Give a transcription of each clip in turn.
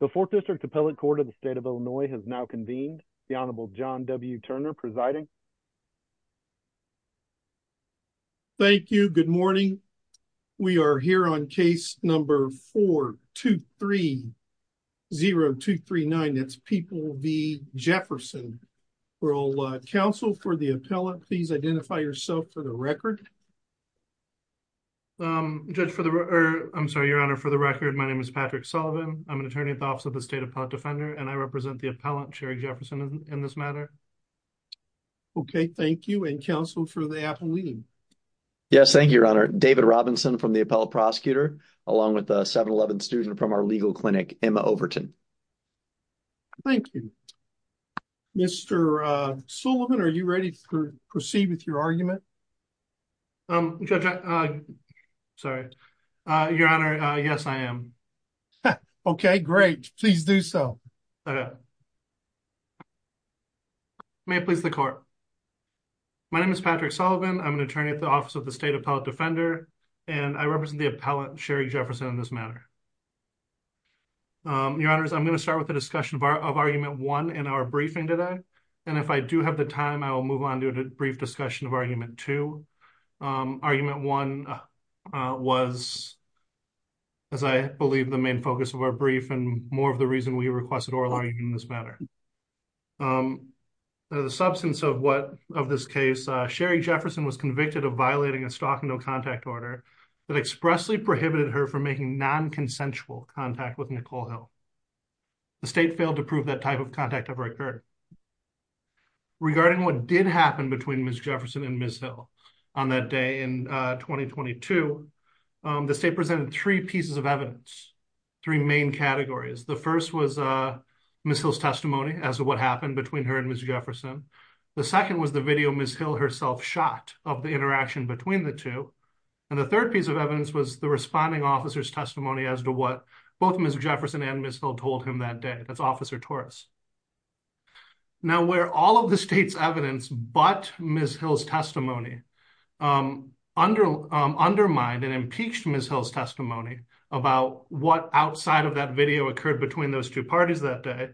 The Fourth District Appellate Court of the State of Illinois has now convened. The Honorable John W. Turner presiding. Thank you. Good morning. We are here on case number 4-2-3-0-2-3-9. That's People v. Jefferson. We're all counsel for the appellate. Please identify yourself for the record. Judge for the record, I'm sorry, Your Honor, for the record, my name is Patrick Sullivan. I'm an attorney at the Office of the State Appellate Defender, and I represent the appellant, Sherry Jefferson, in this matter. Okay, thank you. And counsel for the appellee. Yes, thank you, Your Honor. David Robinson from the appellate prosecutor, along with a 7-Eleven student from our legal clinic, Emma Overton. Thank you. Mr. Sullivan, are you ready to proceed with your argument? Judge, I'm sorry. Your Honor, yes, I am. Okay, great. Please do so. May it please the Court. My name is Patrick Sullivan. I'm an attorney at the Office of the State Appellate Defender, and I represent the appellant, Sherry Jefferson, in this matter. Your Honors, I'm going to start with the discussion of Argument 1 in our briefing today, and if I do have the time, I will move on to a brief discussion of Argument 2. Argument 1 was, as I believe, the main focus of our brief and more of the reason we requested oral argument in this matter. The substance of this case, Sherry Jefferson was convicted of violating a stock and no contact order that expressly prohibited her from making non-consensual contact with Nicole Hill. The state failed to prove that type of contact ever occurred. Regarding what did happen between Ms. Jefferson and Ms. Hill on that day in 2022, the state presented three pieces of evidence, three main categories. The first was Ms. Hill's testimony as to what happened between her and Ms. Jefferson. The second was the video Ms. Hill herself shot of the interaction between the two, and the third piece of evidence was the responding officer's testimony as to what both Ms. Jefferson and Ms. Hill told him that day. That's Officer Torres. Now, where all of the state's evidence but Ms. Hill's testimony undermined and impeached Ms. Hill's testimony about what outside of that video occurred between those two parties that day,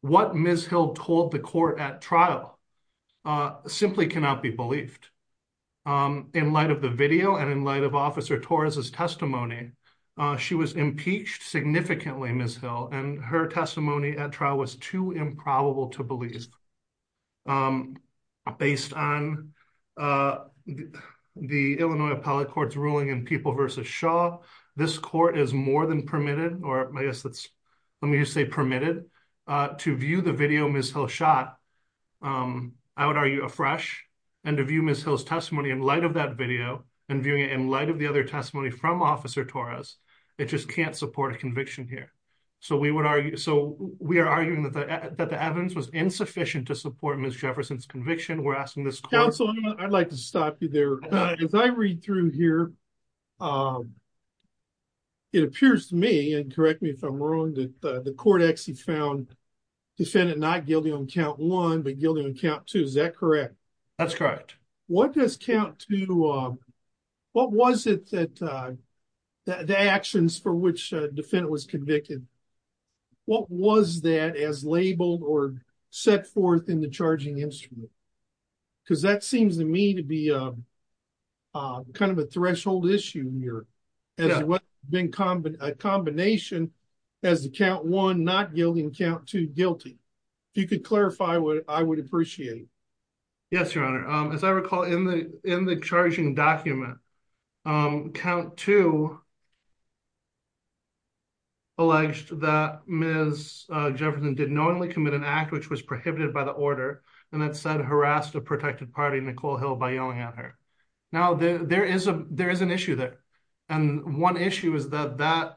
what Ms. Hill told the court at trial simply cannot be believed. In light of the video and in light of Officer Torres's testimony, she was impeached significantly, Ms. Hill, and her testimony at trial was too improbable to believe. Based on the Illinois Appellate Court's ruling in People v. Shaw, this court is more than permitted, or I guess let me just say permitted, to view the video Ms. Hill shot. I would argue afresh, and to view Ms. Hill's testimony in light of that video and viewing it in light of the other testimony from Officer Torres, it just can't support a we are arguing that the evidence was insufficient to support Ms. Jefferson's conviction. We're asking this court... Counsel, I'd like to stop you there. As I read through here, it appears to me, and correct me if I'm wrong, that the court actually found defendant not guilty on count one but guilty on count two. Is that correct? That's correct. What does count two... what was it that the actions for which a defendant was convicted, what was that as labeled or set forth in the charging instrument? Because that seems to me to be kind of a threshold issue here, as well as a combination as to count one not guilty and count two guilty. If you could clarify what I would appreciate. Yes, your honor. As I recall in the in the charging document, count two alleged that Ms. Jefferson did knowingly commit an act which was prohibited by the order and that said harassed a protected party, Nicole Hill, by yelling at her. Now, there is an issue there, and one issue is that...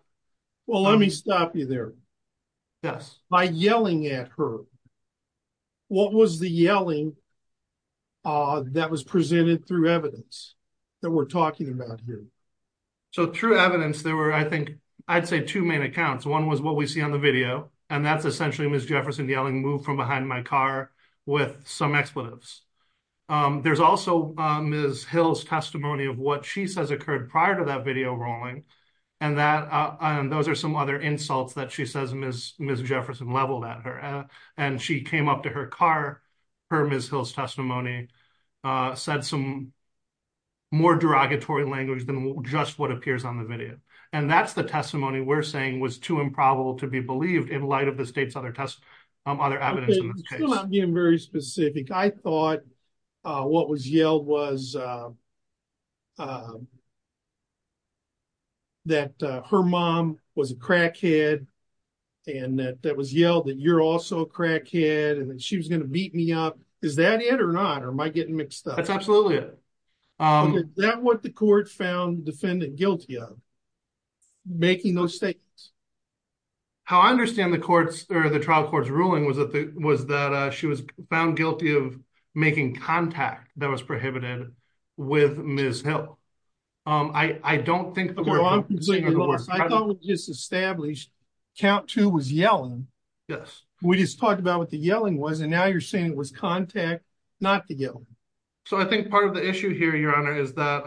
Well, let me stop you there. Yes. By yelling at her, what was the yelling that was presented through evidence that we're talking about here? So through evidence, there were, I think, I'd say two main accounts. One was what we see on the video, and that's essentially Ms. Jefferson yelling, move from behind my car with some expletives. There's also Ms. Hill's testimony of what she says occurred prior to video rolling, and those are some other insults that she says Ms. Jefferson leveled at her, and she came up to her car. Her Ms. Hill's testimony said some more derogatory language than just what appears on the video, and that's the testimony we're saying was too improbable to be believed in light of the state's other evidence in this case. I'm being very specific. I thought what was yelled was that her mom was a crackhead, and that was yelled that you're also a crackhead, and that she was going to beat me up. Is that it or not, or am I getting mixed up? That's absolutely it. Is that what the court found defendant guilty of, making those statements? How I understand the trial court's ruling was that she was found guilty of making contact that was prohibited with Ms. Hill. I don't think the court found her guilty of the work. I thought we just established count two was yelling. Yes. We just talked about what the yelling was, and now you're saying it was contact not the yelling. So I think part of the issue here, your honor, is that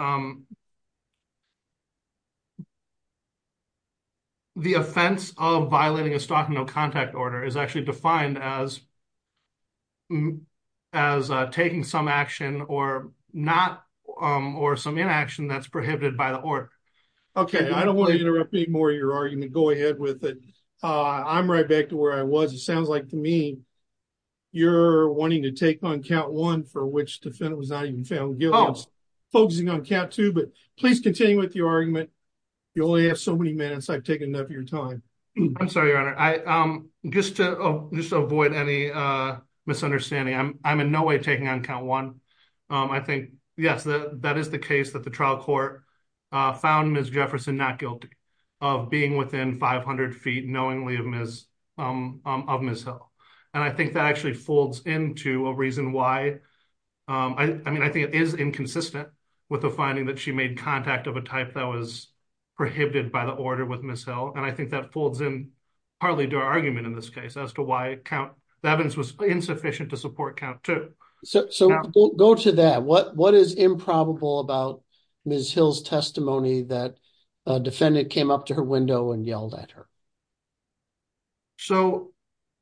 the offense of violating a stock and no contact order is actually defined as taking some action or some inaction that's prohibited by the court. Okay. I don't want to interrupt any more of your argument. Go ahead with it. I'm right back to where I was. It sounds like to me you're wanting to take on count one for which defendant was not even found guilty. I was focusing on count two, but please continue with your argument. You only have so many minutes. I've taken enough of your time. I'm sorry, your honor. Just to avoid any misunderstanding, I'm in no way taking on count one. I think, yes, that is the case that the trial court found Ms. Jefferson not guilty of being within 500 feet knowingly of Ms. Hill. I think that actually folds into a reason why. I mean, I think it is inconsistent with the finding that she made contact of a type that was partly to our argument in this case as to why the evidence was insufficient to support count two. So go to that. What is improbable about Ms. Hill's testimony that a defendant came up to her window and yelled at her? So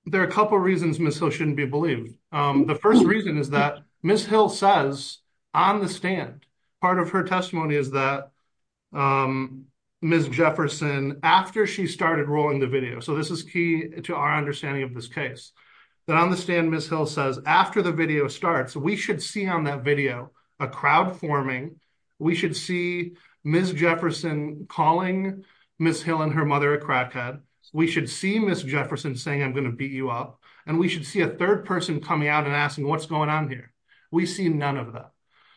there are a couple of reasons Ms. Hill shouldn't be believed. The first reason is that Ms. Hill says on the stand, part of her testimony is that Ms. Jefferson, after she started rolling the video, so this is key to our understanding of this case, that on the stand, Ms. Hill says, after the video starts, we should see on that video a crowd forming. We should see Ms. Jefferson calling Ms. Hill and her mother a crackhead. We should see Ms. Jefferson saying, I'm going to beat you up. And we should see a third person coming out and asking, what's going on here? We see none of that.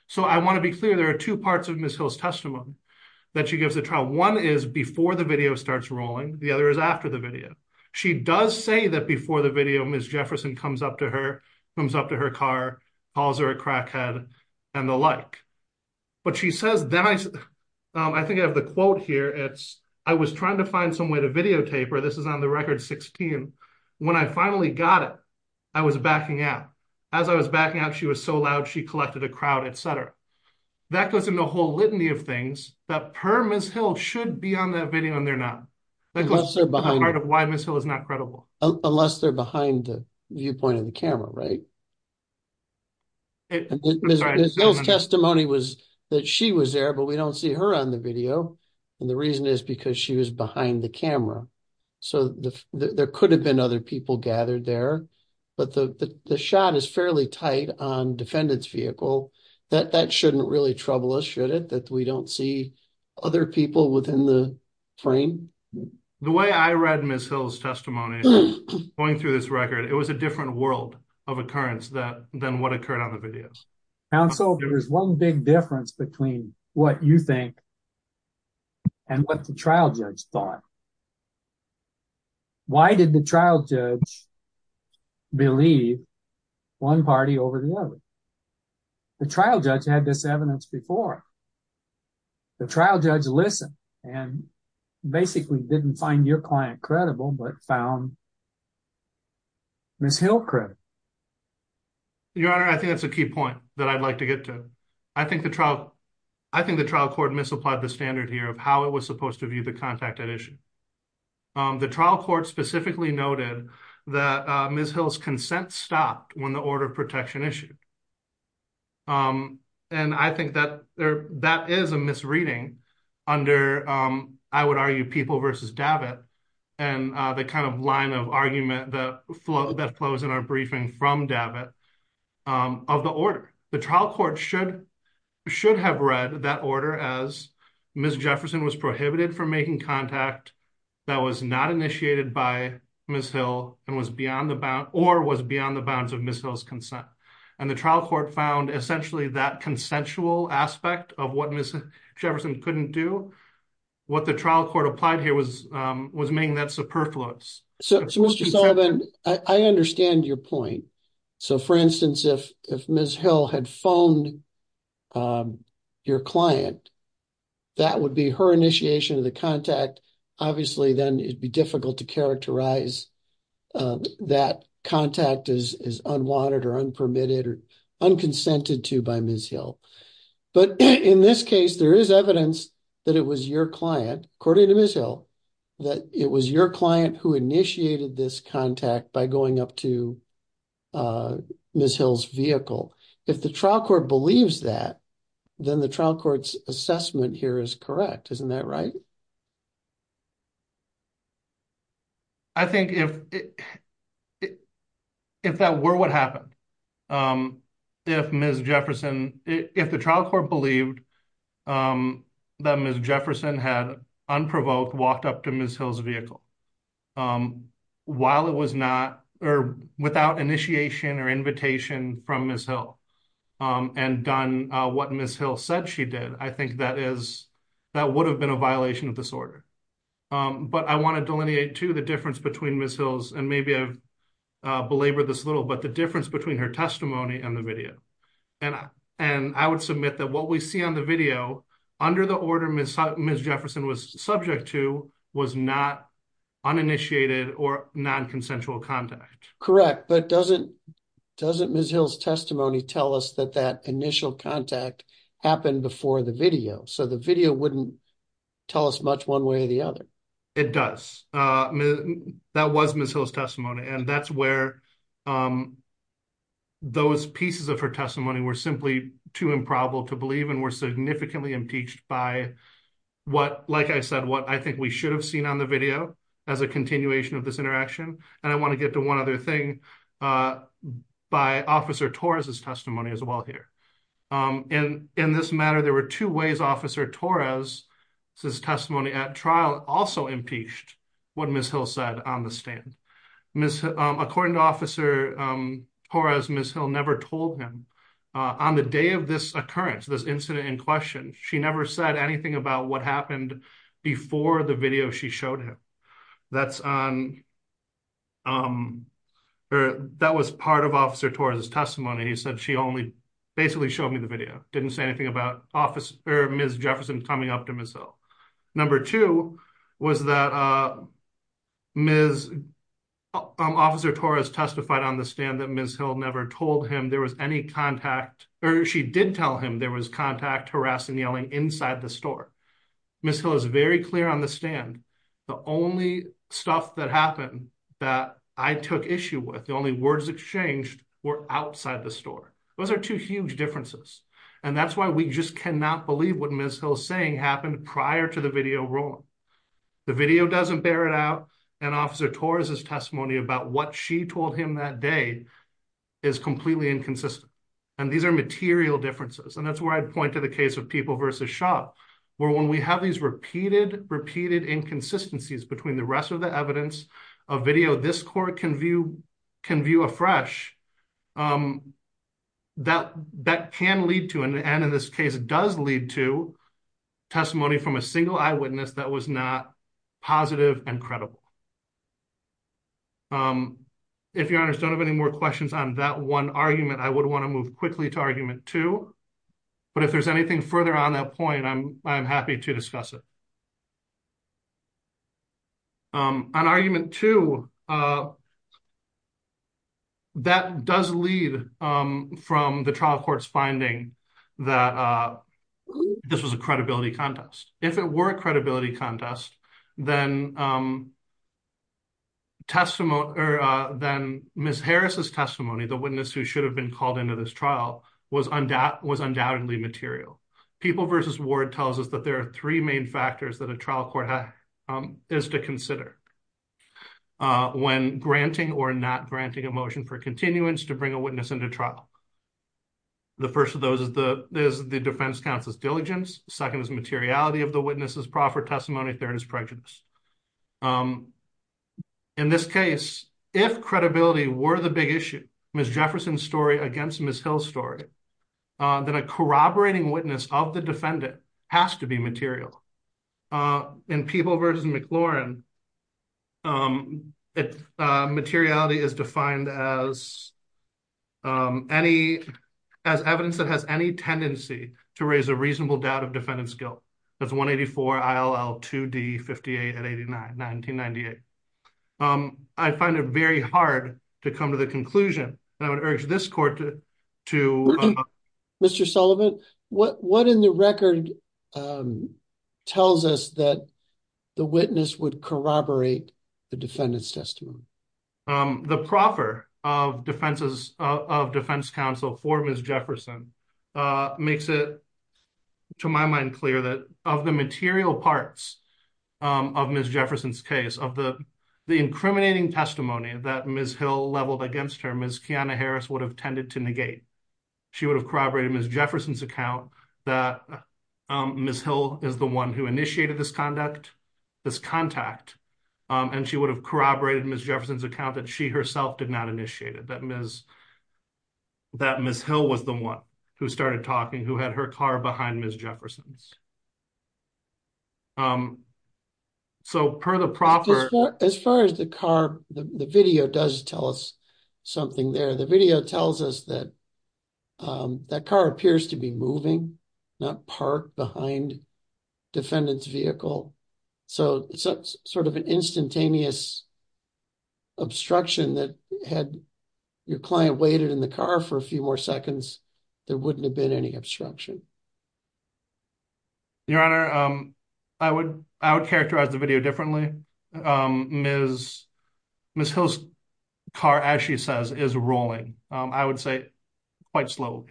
So I want to be clear, there are two parts of Ms. Hill's testimony that she gives the trial. One is before the video starts rolling. The other is after the video. She does say that before the video, Ms. Jefferson comes up to her, comes up to her car, calls her a crackhead and the like. But she says, then I, I think I have the quote here. It's, I was trying to find some way to videotape her. This is on the record 16. When I finally got it, I was backing out. As I was backing out, it was so loud, she collected a crowd, et cetera. That goes into a whole litany of things that per Ms. Hill should be on that video and they're not. That's part of why Ms. Hill is not credible. Unless they're behind the viewpoint of the camera, right? Ms. Hill's testimony was that she was there, but we don't see her on the video. And the reason is because she was behind the camera. So there could have been other people gathered there, but the shot is fairly tight on defendant's vehicle that that shouldn't really trouble us, should it? That we don't see other people within the frame. The way I read Ms. Hill's testimony going through this record, it was a different world of occurrence than what occurred on the videos. And so there's one big difference between what you think and what the trial judge thought. Why did the trial judge believe one party over the other? The trial judge had this evidence before. The trial judge listened and basically didn't find your client credible, but found Ms. Hill credible. Your Honor, I think that's a key point that I'd like to get to. I think the trial court misapplied the standard here of how it was supposed to view the contact at issue. The trial court specifically noted that Ms. Hill's consent stopped when the order of protection issued. And I think that is a misreading under, I would argue, People v. Davitt, and the kind of line of argument that flows in our briefing from Davitt of the order. The trial court should have read that order as Ms. Jefferson was prohibited from making contact that was not initiated by Ms. Hill or was beyond the bounds of Ms. Hill's consent. And the trial court found essentially that consensual aspect of what Ms. Jefferson couldn't do. What the trial court applied here was making that superfluous. So Mr. Sullivan, I understand your point. So for instance, if Ms. Hill had phoned your client, that would be her initiation of the contact. Obviously, then it'd be difficult to characterize that contact as unwanted or unpermitted or unconsented to by Ms. Hill. But in this case, there is evidence that it was your client, according to Ms. Hill, that it was your client who initiated this contact by going up to Ms. Hill's vehicle. If the trial court believes that, then the trial court's assessment here is correct. Isn't that right? I think if that were what happened, if Ms. Jefferson, if the trial court believed that Ms. Jefferson had unprovoked walked up to Ms. Hill's vehicle without initiation or invitation from Ms. Hill and done what Ms. Hill said she did, I think that would have been a violation of this order. But I want to delineate, too, the difference between Ms. Hill's, and maybe I've belabored this a little, but the difference between her testimony and the video. And I would submit that what we see on the video under the order Ms. Jefferson was subject to was not uninitiated or non-consensual contact. Correct. But doesn't Ms. Hill's testimony tell us that that initial contact happened before the video? So the video wouldn't tell us much one way or the other. It does. That was Ms. Hill's testimony. And that's where those pieces of her testimony were simply too improbable to believe and were significantly impeached by what, like I said, what I think we should have seen on the video as a continuation of this interaction. And I want to get to one other thing by Officer Torres' testimony as well here. In this matter, there were two ways Officer Torres' testimony at trial also impeached what Ms. Hill said on the stand. According to Officer Torres, Ms. Hill never told him. On the day of this occurrence, this incident in question, she never said anything about what happened before the video she showed him. That was part of Officer Torres' testimony. He said she only basically showed me the video, didn't say anything about Ms. Jefferson coming up to Ms. Hill. Number two was that Officer Torres testified on the stand that Ms. Hill never told him there was any contact or she did tell him there was contact, harassing, yelling inside the store. Ms. Hill is very clear on the stand. The only stuff that happened that I took issue with, the only words exchanged were outside the store. Those are two huge differences. And that's why we just cannot believe what Ms. Hill's saying happened prior to the video rolling. The video doesn't bear it out. And Officer Torres' testimony about what she told him that day is completely inconsistent. And these are material differences. And that's where I'd point to the case of People v. Shaw, where when we have these repeated, repeated inconsistencies between the rest of the evidence of video this court can view afresh, that can lead to, and in this case does lead to, testimony from a single eyewitness that was not positive and credible. If your honors don't have any more questions on that one argument, I would want to move quickly to argument two. But if there's anything further on that point, I'm happy to discuss it. On argument two, that does lead from the trial court's finding that this was a credibility contest. If it were a credibility contest, then Ms. Harris' testimony, the witness who should have been called into this trial, was undoubtedly material. People v. Ward tells us that there are three main factors that a trial court is to consider when granting or not granting a motion for continuance to bring a witness into trial. The first of those is the defense counsel's diligence. Second is materiality of the witness's proffer testimony. Third is prejudice. In this case, if credibility were the big issue, Ms. Jefferson's story against Ms. Hill's story, then a corroborating witness of the defendant has to be material. In People v. McLaurin, materiality is defined as evidence that has any tendency to raise a reasonable doubt of defendant's guilt. That's 184 ILL 2D 58 at 89, 1998. I find it very hard to come to the conclusion, and I would urge this court to... Mr. Sullivan, what in the record tells us that the witness would corroborate the defendant's testimony? The proffer of defense counsel for Ms. Jefferson makes it, to my mind, clear that of the material parts of Ms. Jefferson's case, of the incriminating testimony that Ms. Hill leveled against her, Ms. Kiana Harris would have tended to negate. She would have corroborated Ms. Jefferson's Ms. Hill is the one who initiated this contact, and she would have corroborated Ms. Jefferson's account that she herself did not initiate it, that Ms. Hill was the one who started talking, who had her car behind Ms. Jefferson's. As far as the car, the video does tell us something there. The video tells us that that car appears to be moving, not parked behind defendant's vehicle, so it's sort of an instantaneous obstruction that had your client waited in the car for a few more seconds, there wouldn't have been any obstruction. Your Honor, I would characterize the video differently. Ms. Hill's car, as she says, is rolling, I would say quite slow.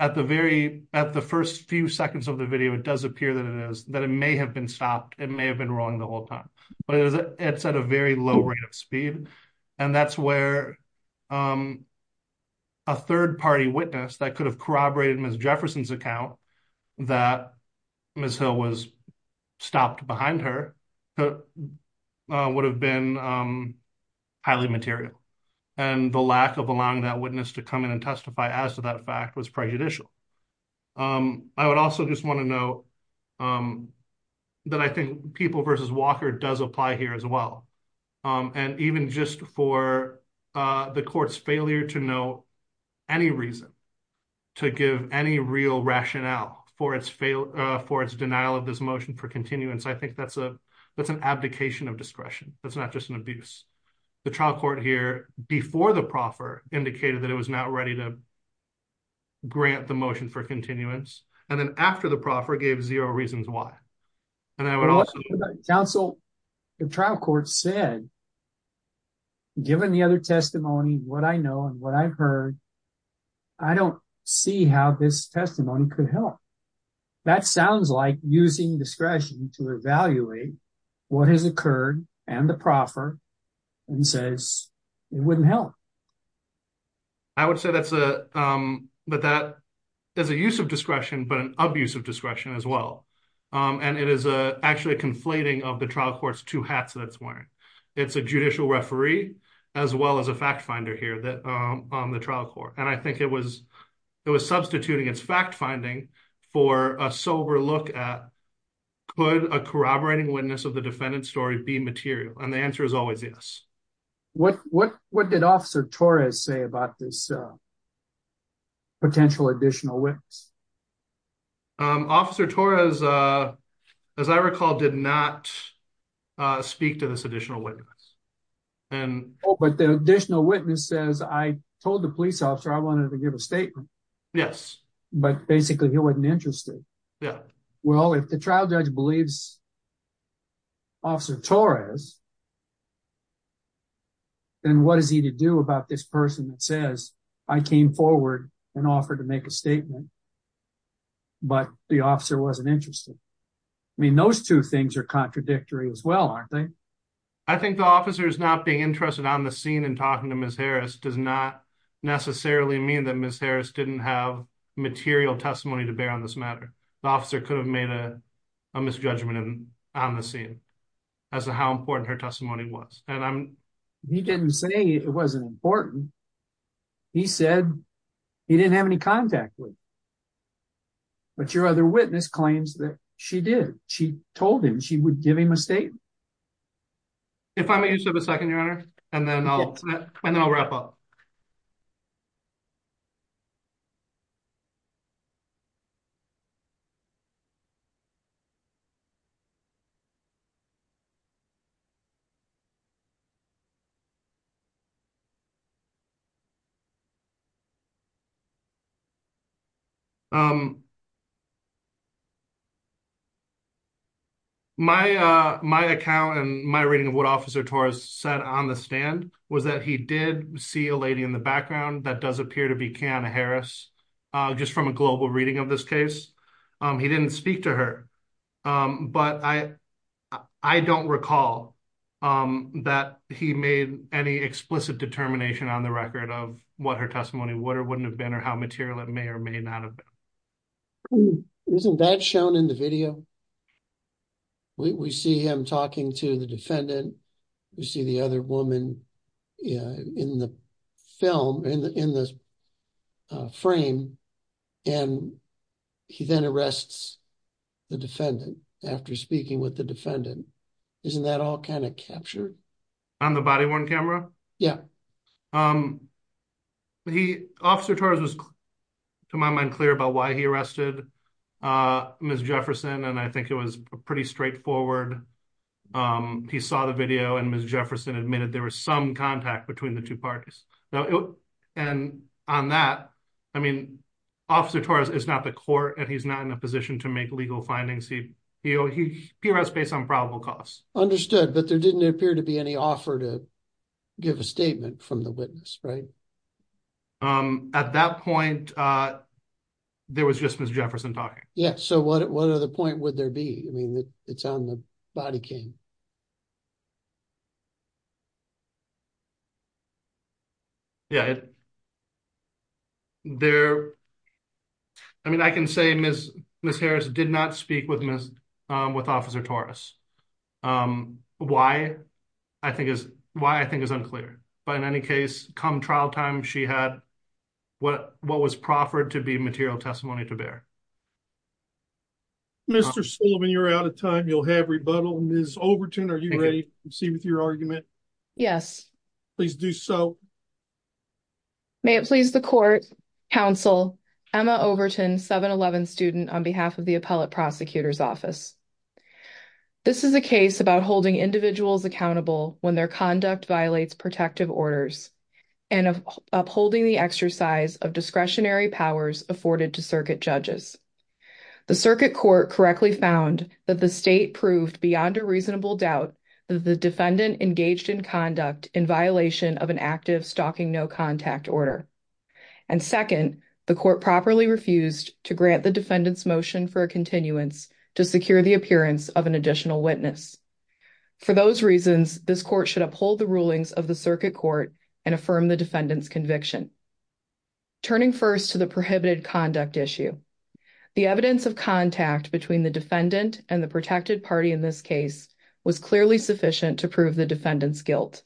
At the first few seconds of the video, it does appear that it is, that it may have been stopped, it may have been rolling the whole time, but it's at a very low rate of speed, and that's where a third-party witness that could have corroborated Ms. Jefferson's account that Ms. Hill was stopped behind her would have been highly material, and the lack of allowing that witness to come in and testify as to that fact was prejudicial. I would also just want to note that I think People v. Walker does apply here as well, and even just for the court's failure to know any reason to give any real rationale for its denial of this motion for continuance, I think that's an abdication of discretion, that's not just an abuse. The trial court here before the proffer indicated that it was not ready to grant the motion for continuance, and then after the proffer gave zero reasons why. And I would also- Counsel, the trial court said, given the other testimony, what I know and what I've heard, I don't see how this testimony could help. That sounds like using discretion to evaluate what has occurred, and the proffer, and says it wouldn't help. I would say that's a, that that is a use of discretion, but an abuse of discretion as well. And it is actually a conflating of the trial court's two hats that it's wearing. It's a judicial referee, as well as a fact finder here on the trial court. And I think it was substituting its fact finding for a sober look at, could a corroborating witness of the defendant's story be material? And the answer is always yes. What did Officer Torres say about this additional witness? Officer Torres, as I recall, did not speak to this additional witness. But the additional witness says, I told the police officer I wanted to give a statement. Yes. But basically he wasn't interested. Yeah. Well, if the trial judge believes Officer Torres, then what is he to do about this person that says, I came forward and offered to make a statement, but the officer wasn't interested. I mean, those two things are contradictory as well, aren't they? I think the officer is not being interested on the scene and talking to Ms. Harris does not necessarily mean that Ms. Harris didn't have material testimony to bear on this matter. The officer could have made a misjudgment on the scene as to how important her testimony was. He didn't say it wasn't important. He said he didn't have any contact with. But your other witness claims that she did. She told him she would give him a statement. If I may just have a second, Your Honor, and then I'll wrap up. My account and my reading of what Officer Torres said on the stand was that he did see a lady in the background that does appear to be Kiana Harris, just from a global reading of this case. He didn't speak to her, but I don't recall that he made any explicit determination on the record of what her testimony would or wouldn't have been or how material it may or may not have been. Isn't that shown in the video? We see him talking to the defendant. We see the other woman in the frame, and he then arrests the defendant after speaking with the defendant. Isn't that all kind of captured? On the body-worn camera? Yeah. Officer Torres was, to my mind, clear about why he arrested Ms. Jefferson, and I think it was pretty straightforward. He saw the video, and Ms. Jefferson admitted there was some contact between the two parties. And on that, I mean, Officer Torres is not the court, and he's not in a position to make legal findings. He arrests based on probable cause. Understood, but there didn't appear to be any offer to give a statement from the witness, right? At that point, there was just Ms. Jefferson talking. Yeah, so what other point would there be? I mean, it's on the body cam. Yeah. I mean, I can say Ms. Harris did not speak with Officer Torres. Why I think is unclear, but in any case, come trial time, she had what was proffered to be material testimony to bear. Mr. Sullivan, you're out of time. You'll have rebuttal. Ms. Overton, are you ready to proceed with your argument? Yes. Please do so. May it please the court, counsel, Emma Overton, 711 student, on behalf of the Appellate Prosecutor's Office. This is a case about holding individuals accountable when their conduct violates protective orders and upholding the exercise of discretionary powers afforded to circuit judges. The circuit court correctly found that the state proved beyond a reasonable doubt that the defendant engaged in conduct in violation of an active stalking no contact order. And second, the court properly refused to grant the defendant's motion for a continuance to secure the appearance of an additional witness. For those reasons, this court should uphold the rulings of the circuit court and affirm the defendant's conviction. Turning first to the evidence of contact between the defendant and the protected party in this case was clearly sufficient to prove the defendant's guilt.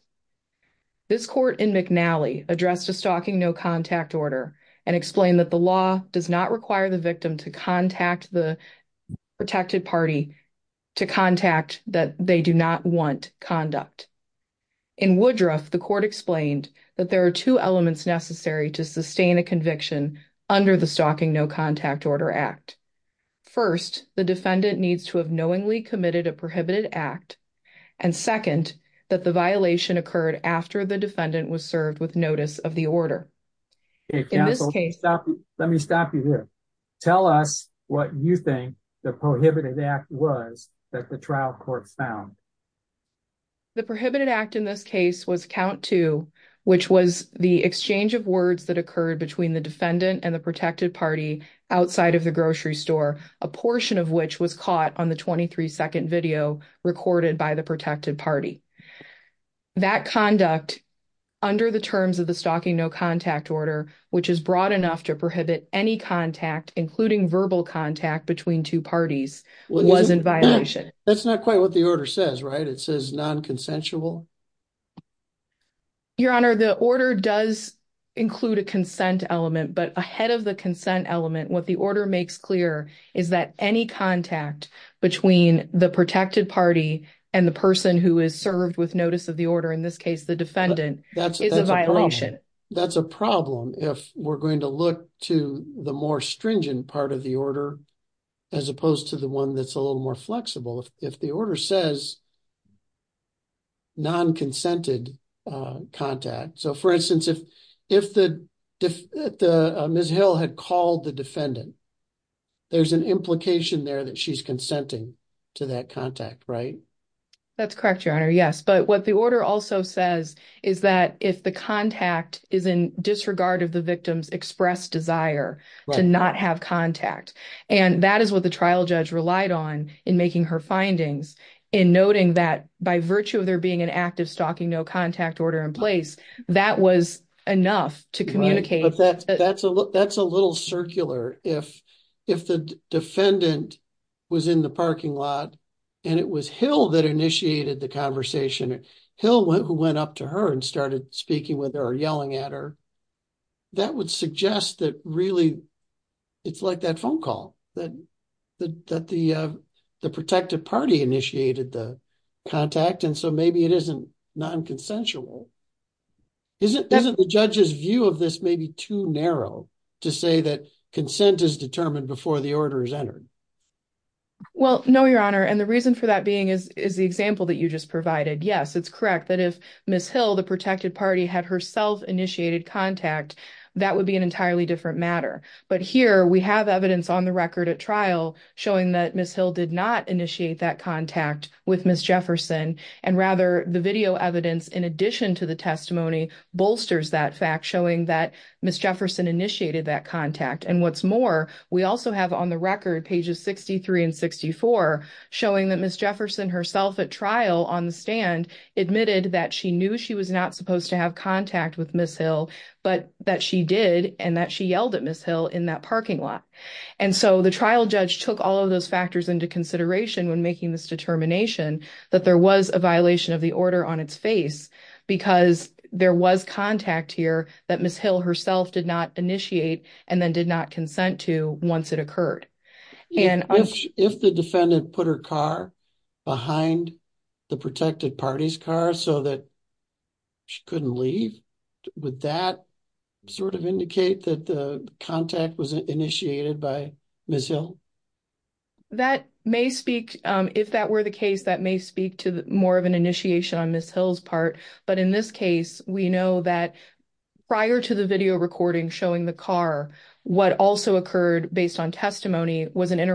This court in McNally addressed a stalking no contact order and explained that the law does not require the victim to contact the protected party to contact that they do not want conduct. In Woodruff, the court explained that there are two elements necessary to sustain a conviction under the stalking no contact order act. First, the defendant needs to have knowingly committed a prohibited act. And second, that the violation occurred after the defendant was served with notice of the order. In this case, let me stop you here. Tell us what you think the prohibited act was that the trial court found. The prohibited act in this case was which was the exchange of words that occurred between the defendant and the protected party outside of the grocery store, a portion of which was caught on the 23 second video recorded by the protected party. That conduct under the terms of the stalking no contact order, which is broad enough to prohibit any contact, including verbal contact between two parties, was in violation. That's not quite what the order says, right? It says non-consensual. Your Honor, the order does include a consent element, but ahead of the consent element, what the order makes clear is that any contact between the protected party and the person who is served with notice of the order, in this case, the defendant, that's a violation. That's a problem. If we're going to look to the more stringent part of the order, as opposed to the one that's a little more flexible, if the order says non-consented contact, so for instance, if Ms. Hill had called the defendant, there's an implication there that she's consenting to that contact, right? That's correct, Your Honor. Yes, but what the order also says is that if the contact is in disregard of the victim's expressed desire to not have contact, and that is what the trial judge relied on in making her findings, in noting that by virtue of there being an active stalking no contact order in place, that was enough to communicate. That's a little circular. If the defendant was in the parking lot and it was Hill that initiated the conversation, Hill went up to her and started speaking with her or yelling at her, that would suggest that really it's like that phone call, that the protective party initiated the contact, and so maybe it isn't non-consensual. Isn't the judge's view of this maybe too narrow to say that consent is determined before the order is entered? Well, no, Your Honor, and the reason for that being is the example that you just provided. Yes, it's correct that if Ms. Hill, the protected party, had herself initiated contact, that would be an entirely different matter, but here we have evidence on the record at trial showing that Ms. Hill did not initiate that contact with Ms. Jefferson, and rather the video evidence in addition to the testimony bolsters that fact, showing that Ms. Jefferson initiated that contact, and what's more, we also have on the record, pages 63 and 64, showing that Ms. Jefferson herself at trial on the stand admitted that she knew she was not supposed to have contact with Ms. Hill, but that she did and that she yelled at Ms. Hill in that parking lot, and so the trial judge took all of those factors into consideration when making this determination that there was a violation of the order on its face because there was contact here that Ms. Hill herself did not initiate and then did not consent to once it occurred. If the defendant put her car behind the protected party's car so that she couldn't leave, would that sort of indicate that the contact was initiated by Ms. Hill? That may speak, if that were the case, that may speak to more of an initiation on Ms. Hill's part, but in this case, we know that prior to the video recording showing the car, what also occurred based on testimony was an is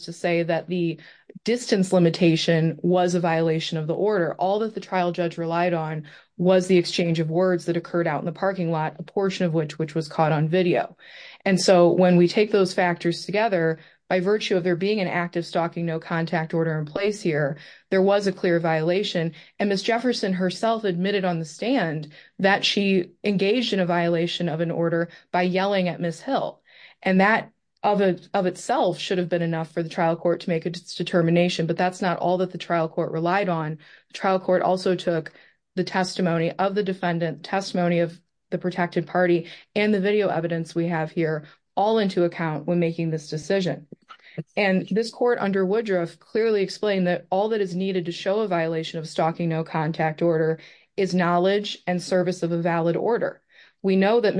to say that the distance limitation was a violation of the order. All that the trial judge relied on was the exchange of words that occurred out in the parking lot, a portion of which was caught on video, and so when we take those factors together, by virtue of there being an active stalking no contact order in place here, there was a clear violation, and Ms. Jefferson herself admitted on the stand that she engaged in a violation of an order by yelling at Ms. Hill, and that of itself should have been enough for the trial court to make its determination, but that's not all that the trial court relied on. The trial court also took the testimony of the defendant, testimony of the protected party, and the video evidence we have here all into account when making this decision, and this court under Woodruff clearly explained that all that is needed to show a violation of stalking no contact order is knowledge and service of a stand, and we know that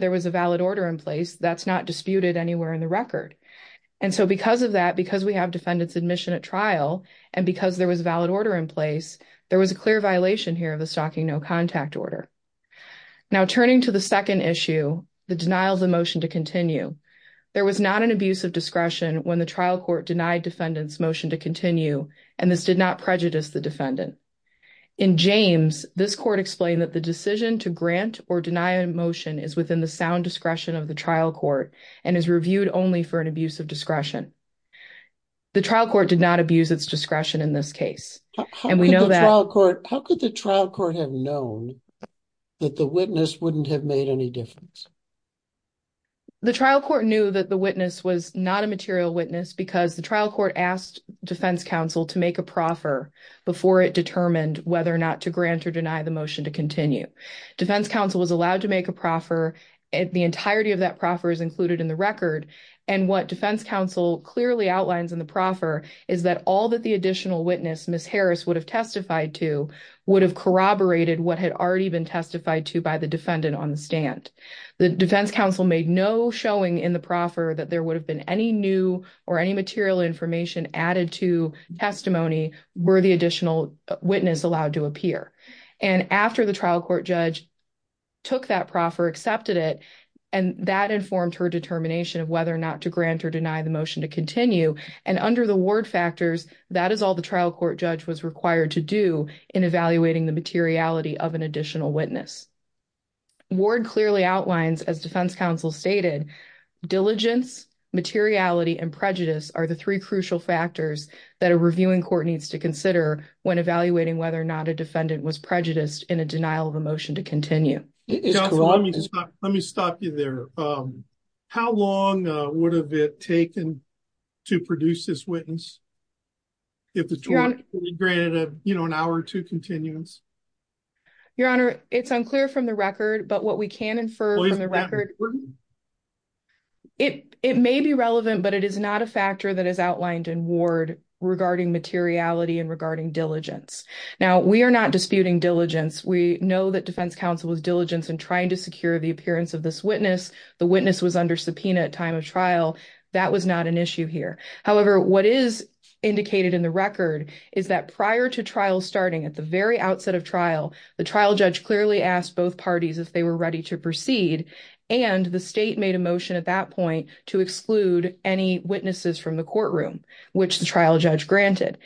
there was a valid order in place that's not disputed anywhere in the record, and so because of that, because we have defendant's admission at trial, and because there was a valid order in place, there was a clear violation here of the stalking no contact order. Now turning to the second issue, the denial of the motion to continue, there was not an abuse of discretion when the trial court denied defendant's motion to continue, and this did not prejudice the defendant. In James, this court explained that the decision to grant or deny a motion is within the sound discretion of the trial court, and is reviewed only for an abuse of discretion. The trial court did not abuse its discretion in this case, and we know that. How could the trial court have known that the witness wouldn't have made any difference? The trial court knew that the witness was not a material witness because the trial to make a proffer before it determined whether or not to grant or deny the motion to continue. Defense counsel was allowed to make a proffer, and the entirety of that proffer is included in the record, and what defense counsel clearly outlines in the proffer is that all that the additional witness, Ms. Harris, would have testified to would have corroborated what had already been testified to by the defendant on the stand. The defense counsel made no showing in the testimony were the additional witness allowed to appear, and after the trial court judge took that proffer, accepted it, and that informed her determination of whether or not to grant or deny the motion to continue, and under the ward factors, that is all the trial court judge was required to do in evaluating the materiality of an additional witness. Ward clearly outlines, as defense counsel stated, diligence, materiality, and prejudice are the three crucial factors that a reviewing court needs to consider when evaluating whether or not a defendant was prejudiced in a denial of a motion to continue. Let me stop you there. How long would have it taken to produce this witness if the trial court granted, you know, an hour or two continuance? Your honor, it's unclear from the record, but what we can infer from the record, it may be relevant, but it is not a factor that is outlined in ward regarding materiality and regarding diligence. Now, we are not disputing diligence. We know that defense counsel was diligence in trying to secure the appearance of this witness. The witness was under subpoena at time of trial. That was not an issue here. However, what is indicated in the record is that prior to trial starting at the very outset of trial, the trial judge clearly asked both parties if they were ready to proceed, and the state made a motion at that point to exclude any witnesses from the courtroom, which the trial judge granted.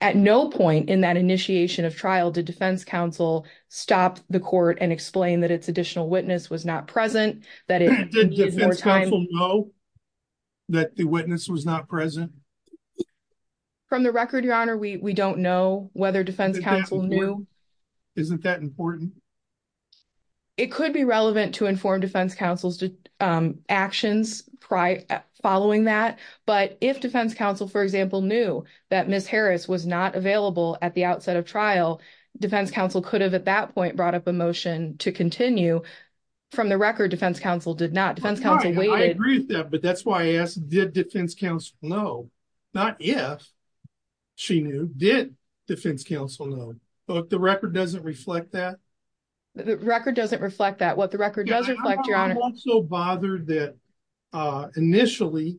At no point in that initiation of trial did defense counsel stop the court and explain that its additional witness was not present, that it needed more time. Did defense counsel know that the witness was not present? From the record, your honor, we don't know whether defense counsel knew. Isn't that important? It could be relevant to inform defense counsel's actions following that, but if defense counsel, for example, knew that Ms. Harris was not available at the outset of trial, defense counsel could have at that point brought up a motion to continue. From the record, defense counsel did not. Defense counsel waited. I agree with that, but that's why I asked, did defense counsel know? Not if she knew. Did defense counsel know? The record doesn't reflect that. The record doesn't reflect that. What the record does reflect, your honor. I'm also bothered that initially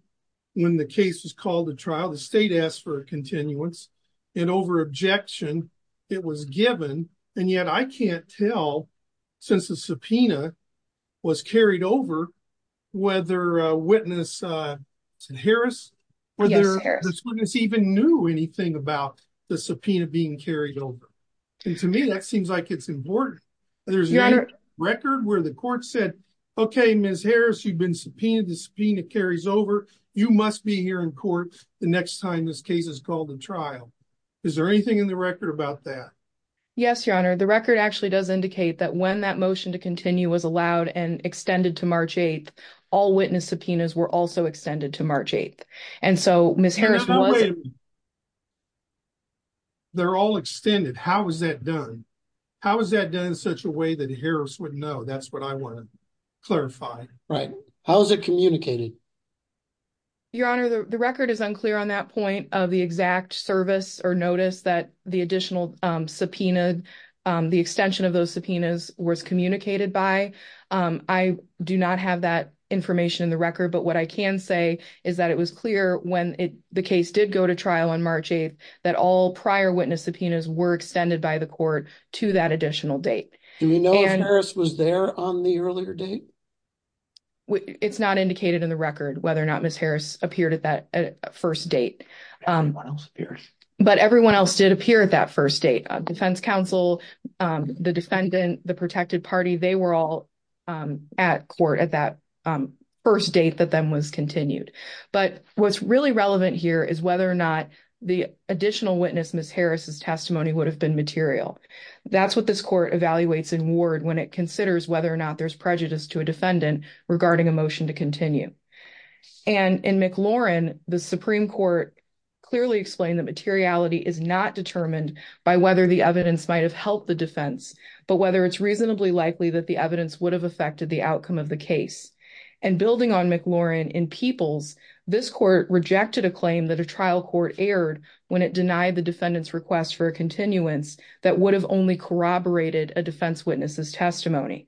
when the case was called to trial, the state asked for a continuance, and over objection it was given, and yet I can't tell since the subpoena was carried over whether witness Harris or the witness even knew anything about the subpoena being carried over, and to me that seems like it's important. There's a record where the court said, okay, Ms. Harris, you've been subpoenaed. The subpoena carries over. You must be here in court the next time this case is called to trial. Is there anything in the record about that? Yes, your honor. The record actually does indicate that when that motion to continue was allowed and all witness subpoenas were also extended to March 8th, and so Ms. Harris... They're all extended. How is that done? How is that done in such a way that Harris would know? That's what I want to clarify. Right. How is it communicated? Your honor, the record is unclear on that point of the exact service or notice that the additional subpoena, the extension of those subpoenas was communicated by. I do not have that information in the record, but what I can say is that it was clear when the case did go to trial on March 8th that all prior witness subpoenas were extended by the court to that additional date. Do we know if Harris was there on the earlier date? It's not indicated in the record whether or not Ms. Harris appeared at that first date. But everyone else did appear at that first date. Defense counsel, the defendant, the protected party, they were all at court at that first date that then was continued. But what's really relevant here is whether or not the additional witness, Ms. Harris's testimony, would have been material. That's what this court evaluates in ward when it considers whether or not there's prejudice to a defendant regarding a motion to continue. And in McLaurin, the Supreme Court clearly explained that materiality is not determined by whether the evidence might have the defense, but whether it's reasonably likely that the evidence would have affected the outcome of the case. And building on McLaurin, in Peoples, this court rejected a claim that a trial court erred when it denied the defendant's request for a continuance that would have only corroborated a defense witness's testimony.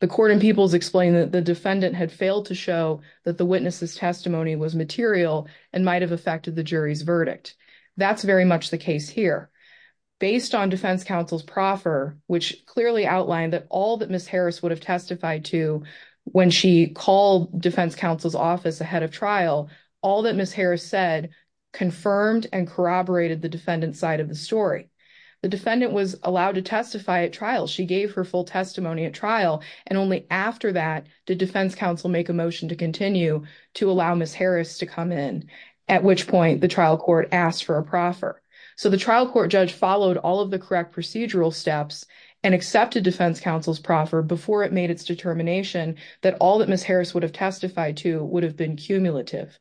The court in Peoples explained that the defendant had failed to show that the witness's testimony was material and might have affected the jury's verdict. That's very much the case here. Based on defense counsel's proffer, which clearly outlined that all that Ms. Harris would have testified to when she called defense counsel's office ahead of trial, all that Ms. Harris said confirmed and corroborated the defendant's side of the story. The defendant was allowed to testify at trial. She gave her full testimony at trial, and only after that did defense counsel make a motion to continue to allow Ms. Harris to come in, at which point the trial court asked for a proffer. So, the trial court judge followed all of the correct procedural steps and accepted defense counsel's proffer before it made its determination that all that Ms. Harris would have testified to would have been cumulative.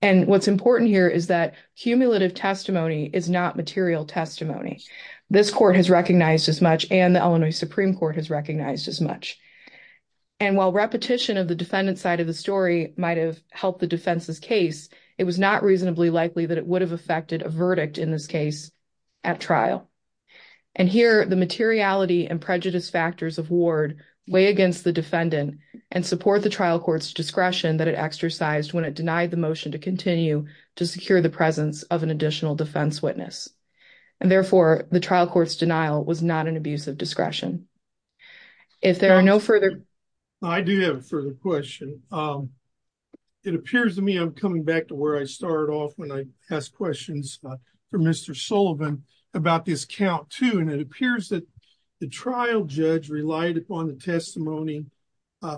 And what's important here is that cumulative testimony is not material testimony. This court has recognized as much, and the Illinois Supreme Court has recognized as much. And while repetition of the defendant's side of the story might have helped the defense's case, it was not reasonably likely that it would have affected a verdict in this case at trial. And here, the materiality and prejudice factors of Ward weigh against the defendant and support the trial court's discretion that it exercised when it denied the motion to continue to secure the presence of an additional defense witness. And therefore, the trial court's denial was not an abuse of discretion. If there are no further... To where I started off when I asked questions for Mr. Sullivan about this count, too, and it appears that the trial judge relied upon the testimony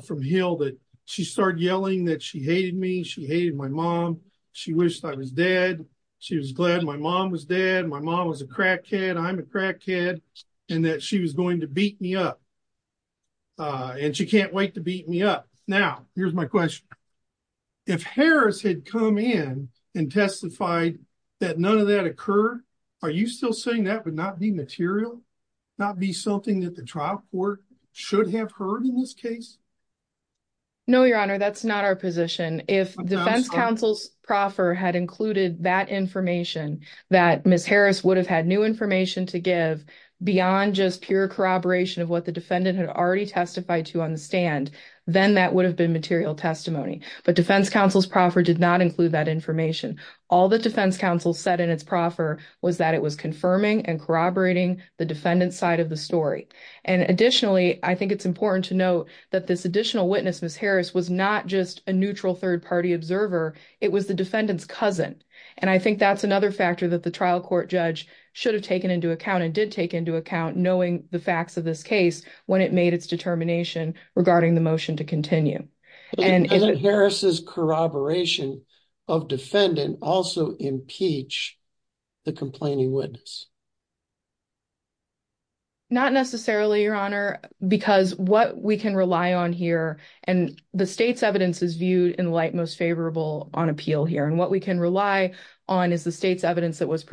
from Hill that she started yelling that she hated me, she hated my mom, she wished I was dead, she was glad my mom was dead, my mom was a crackhead, I'm a crackhead, and that she was going to beat me up. And she can't wait to beat me up. Now, here's my question. If Harris had come in and testified that none of that occurred, are you still saying that would not be material, not be something that the trial court should have heard in this case? No, Your Honor, that's not our position. If defense counsel's proffer had included that information that Ms. Harris would have had new information to give beyond just pure corroboration of what the defendant had already testified to understand, then that would have been material testimony. But defense counsel's proffer did not include that information. All the defense counsel said in its proffer was that it was confirming and corroborating the defendant's side of the story. And additionally, I think it's important to note that this additional witness, Ms. Harris, was not just a neutral third-party observer, it was the defendant's cousin. And I think that's another factor that the trial court judge should have taken into account and did take into account knowing the facts of this case when it made its determination regarding the motion to continue. But doesn't Harris's corroboration of defendant also impeach the complaining witness? Not necessarily, Your Honor, because what we can rely on here, and the state's evidence is viewed in light most favorable on appeal here, and what we can rely on is the state's evidence that was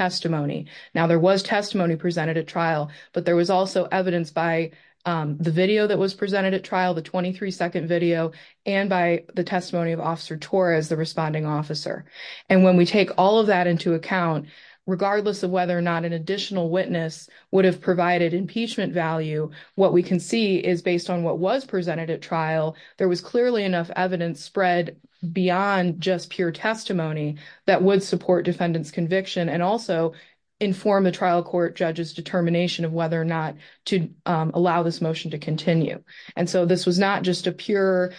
testimony. Now, there was testimony presented at trial, but there was also evidence by the video that was presented at trial, the 23-second video, and by the testimony of Officer Torres, the responding officer. And when we take all of that into account, regardless of whether or not an additional witness would have provided impeachment value, what we can see is based on what was presented at trial, there was clearly enough evidence spread beyond just pure testimony that would support defendant's conviction and also inform the trial court judge's determination of whether or not to allow this motion to continue. And so this was not just a pure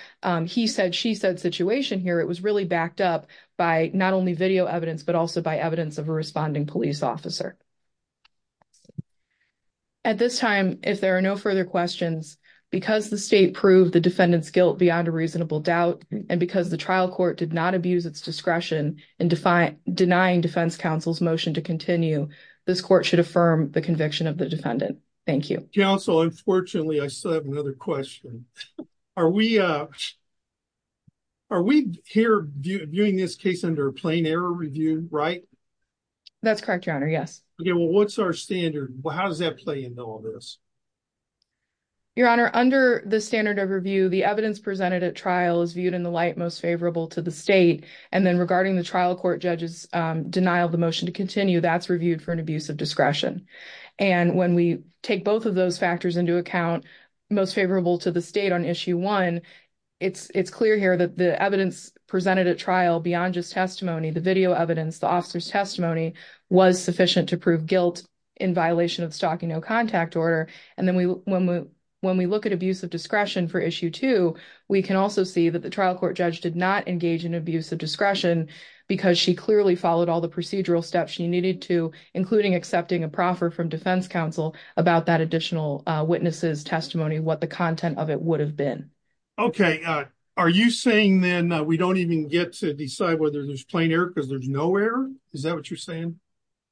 he said, she said situation here. It was really backed up by not only video evidence, but also by evidence of a responding police officer. At this time, if there are no further questions, because the state proved the defendant's guilt beyond a reasonable doubt, and because the denying defense counsel's motion to continue, this court should affirm the conviction of the defendant. Thank you. Counsel, unfortunately, I still have another question. Are we here viewing this case under a plain error review, right? That's correct, Your Honor. Yes. Okay, well, what's our standard? How does that play into all this? Your Honor, under the standard of review, the evidence presented at trial is viewed in the most favorable to the state. And then regarding the trial court judge's denial of the motion to continue, that's reviewed for an abuse of discretion. And when we take both of those factors into account, most favorable to the state on issue one, it's clear here that the evidence presented at trial beyond just testimony, the video evidence, the officer's testimony was sufficient to prove guilt in violation of stalking no contact order. And then when we look abuse of discretion for issue two, we can also see that the trial court judge did not engage in abuse of discretion because she clearly followed all the procedural steps she needed to, including accepting a proffer from defense counsel about that additional witness's testimony, what the content of it would have been. Okay. Are you saying then we don't even get to decide whether there's plain error because there's no error? Is that what you're saying?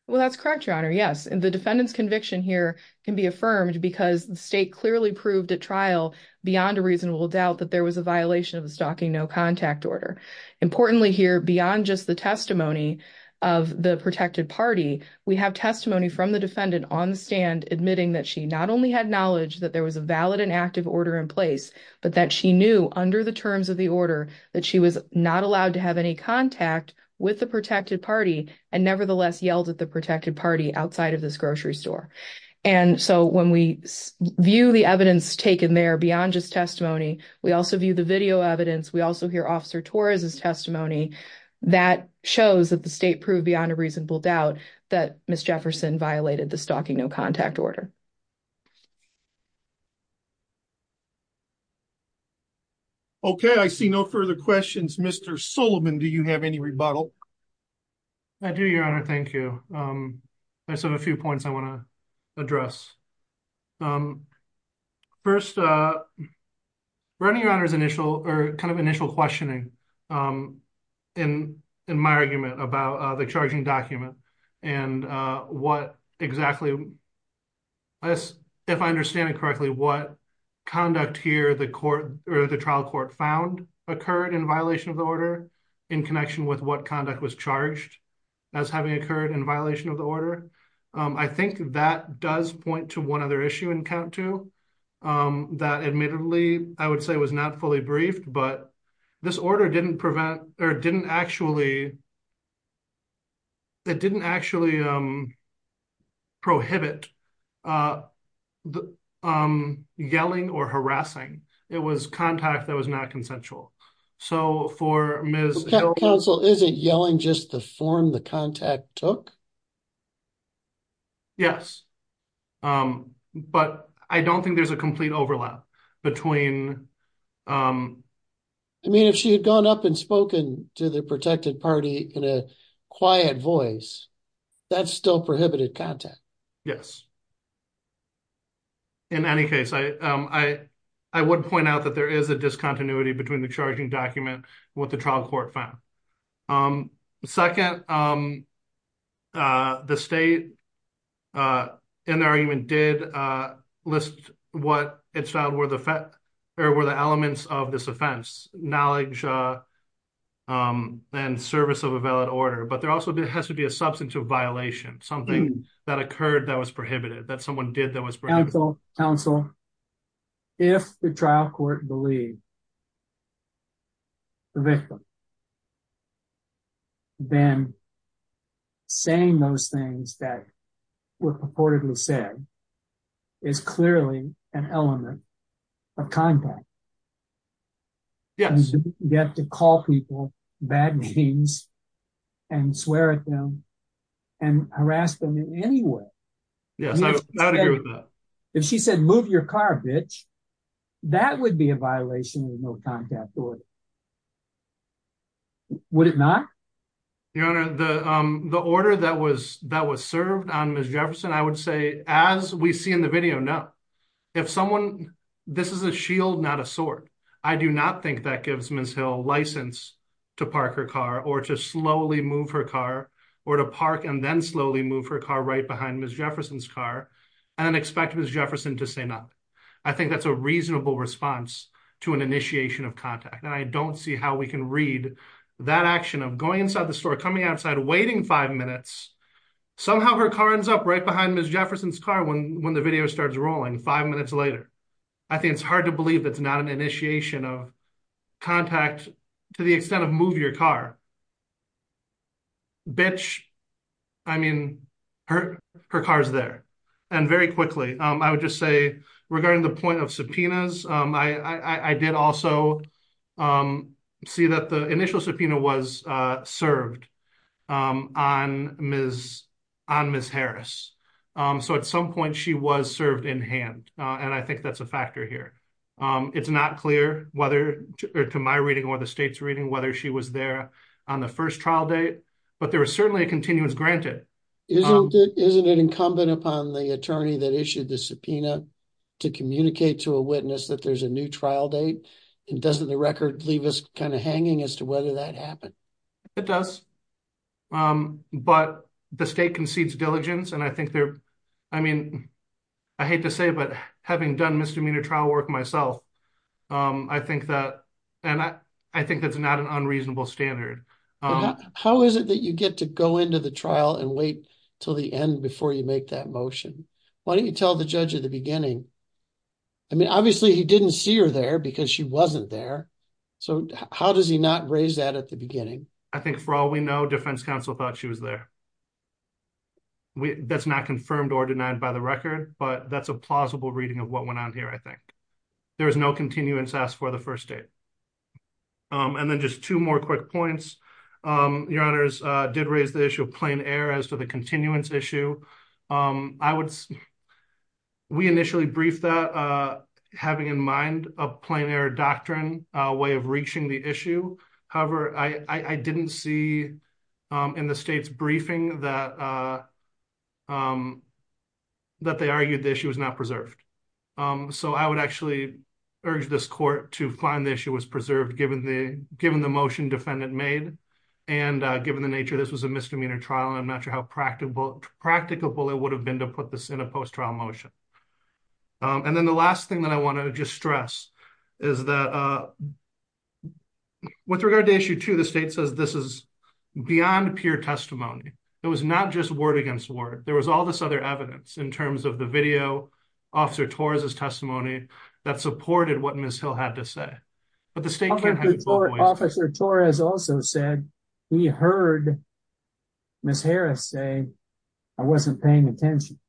Well, that's correct, Your Honor. Yes. And the defendant's conviction here can be affirmed because the state clearly proved at trial beyond a reasonable doubt that there was a violation of the stalking no contact order. Importantly here, beyond just the testimony of the protected party, we have testimony from the defendant on the stand admitting that she not only had knowledge that there was a valid and active order in place, but that she knew under the terms of the order that she was not allowed to have any contact with the protected party and nevertheless yelled at the protected party outside of this evidence. We also view the video evidence. We also hear Officer Torres' testimony that shows that the state proved beyond a reasonable doubt that Ms. Jefferson violated the stalking no contact order. Okay. I see no further questions. Mr. Suleman, do you have any rebuttal? I do, Your Honor. Thank you. I just have a few points I want to address. First, running around his initial or kind of initial questioning in my argument about the charging document and what exactly, if I understand it correctly, what conduct here the court or the charged as having occurred in violation of the order. I think that does point to one other issue that admittedly I would say was not fully briefed, but this order didn't actually prohibit yelling or harassing. It was contact that was not consensual. So, for Ms. Hill... Counsel, isn't yelling just the form the contact took? Yes, but I don't think there's a complete overlap between... I mean, if she had gone up and spoken to the protected party in a quiet voice, that still prohibited contact. Yes. In any case, I would point out that there was no contact. I would point out that there was no contact. Second, the state in the argument did list what it found were the elements of this offense, knowledge and service of a valid order, but there also has to be a substance of violation, something that occurred that was prohibited, that someone did that was prohibited. Counsel, if the trial court believed the victim, then saying those things that were purportedly said is clearly an element of contact. Yes. You get to call people bad names and swear at them and harass them in any way. Yes, I would agree with that. If she said, move your car, bitch, that would be a violation of the no contact order. Would it not? Your Honor, the order that was served on Ms. Jefferson, I would say, as we see in the video, no. This is a shield, not a sword. I do not think that gives Ms. Hill license to park her car or to slowly move her car or to park and then slowly move her car right behind Ms. Jefferson's car and then expect Ms. Jefferson to say nothing. I think that's a reasonable response to an initiation of contact, and I don't see how we can read that action of going inside the store, coming outside, waiting five minutes. Somehow her car ends up right behind Ms. Jefferson's car when the video starts rolling five minutes later. I think it's hard to believe that's not an initiation of contact to the extent of move your car. Bitch, I mean, her car's there. And very quickly, I would just say, regarding the point of subpoenas, I did also see that the initial subpoena was served on Ms. Harris. So at some point, she was served in hand, and I think that's a factor here. It's not clear, to my reading or the state's reading, whether she was there on the first trial date, but there was certainly a continuance granted. Isn't it incumbent upon the attorney that issued the subpoena to communicate to a witness that there's a new trial date? And doesn't the record leave us kind of hanging as to whether that happened? It does, but the state concedes myself. I think that's not an unreasonable standard. How is it that you get to go into the trial and wait till the end before you make that motion? Why don't you tell the judge at the beginning? I mean, obviously he didn't see her there because she wasn't there. So how does he not raise that at the beginning? I think for all we know, defense counsel thought she was there. That's not confirmed or denied by the record, but that's a plausible reading of what went on here, I think. There was no continuance asked for the first date. And then just two more quick points. Your honors did raise the issue of plain air as to the continuance issue. We initially briefed that having in mind a plain air doctrine, a way of reaching the issue. However, I didn't see in the state's briefing that they argued the issue was not preserved. So I would actually urge this court to find the issue was preserved given the motion defendant made. And given the nature, this was a misdemeanor trial. And I'm not sure how practicable it would have been to put this in a post-trial motion. And then the last thing that I want to just stress is that with regard to issue two, the state says this is beyond pure testimony. It was not just word against word. There was all this other evidence in terms of the video, Officer Torres' testimony that supported what Ms. Hill had to say. But the state can't have both ways. Officer Torres also said he heard Ms. Harris say, I wasn't paying attention.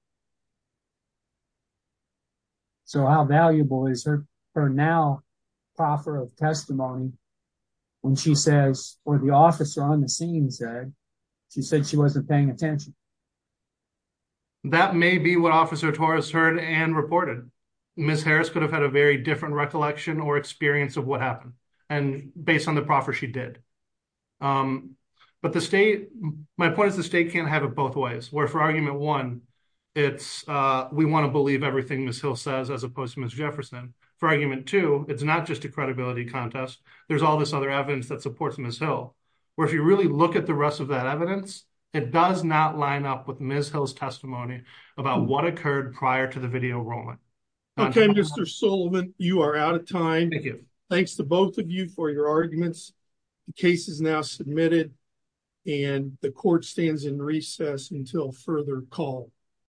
So how valuable is her now proffer of testimony when she says, or the officer on the scene said, she said she wasn't paying attention. That may be what Officer Torres heard and reported. Ms. Harris could have had a very different recollection or experience of what happened and based on the proffer she did. But the state, my point is the state can't have it both ways. For argument one, we want to believe everything Ms. Hill says as opposed to Ms. Jefferson. For argument two, it's not just a credibility contest. There's all this other evidence that supports Ms. Hill. Where if you really look at the rest of that evidence, it does not line up with Ms. Hill's testimony about what occurred prior to the video rolling. Okay, Mr. Sullivan, you are out of time. Thanks to both of you for your arguments. The case is now submitted and the court stands in recess until further call.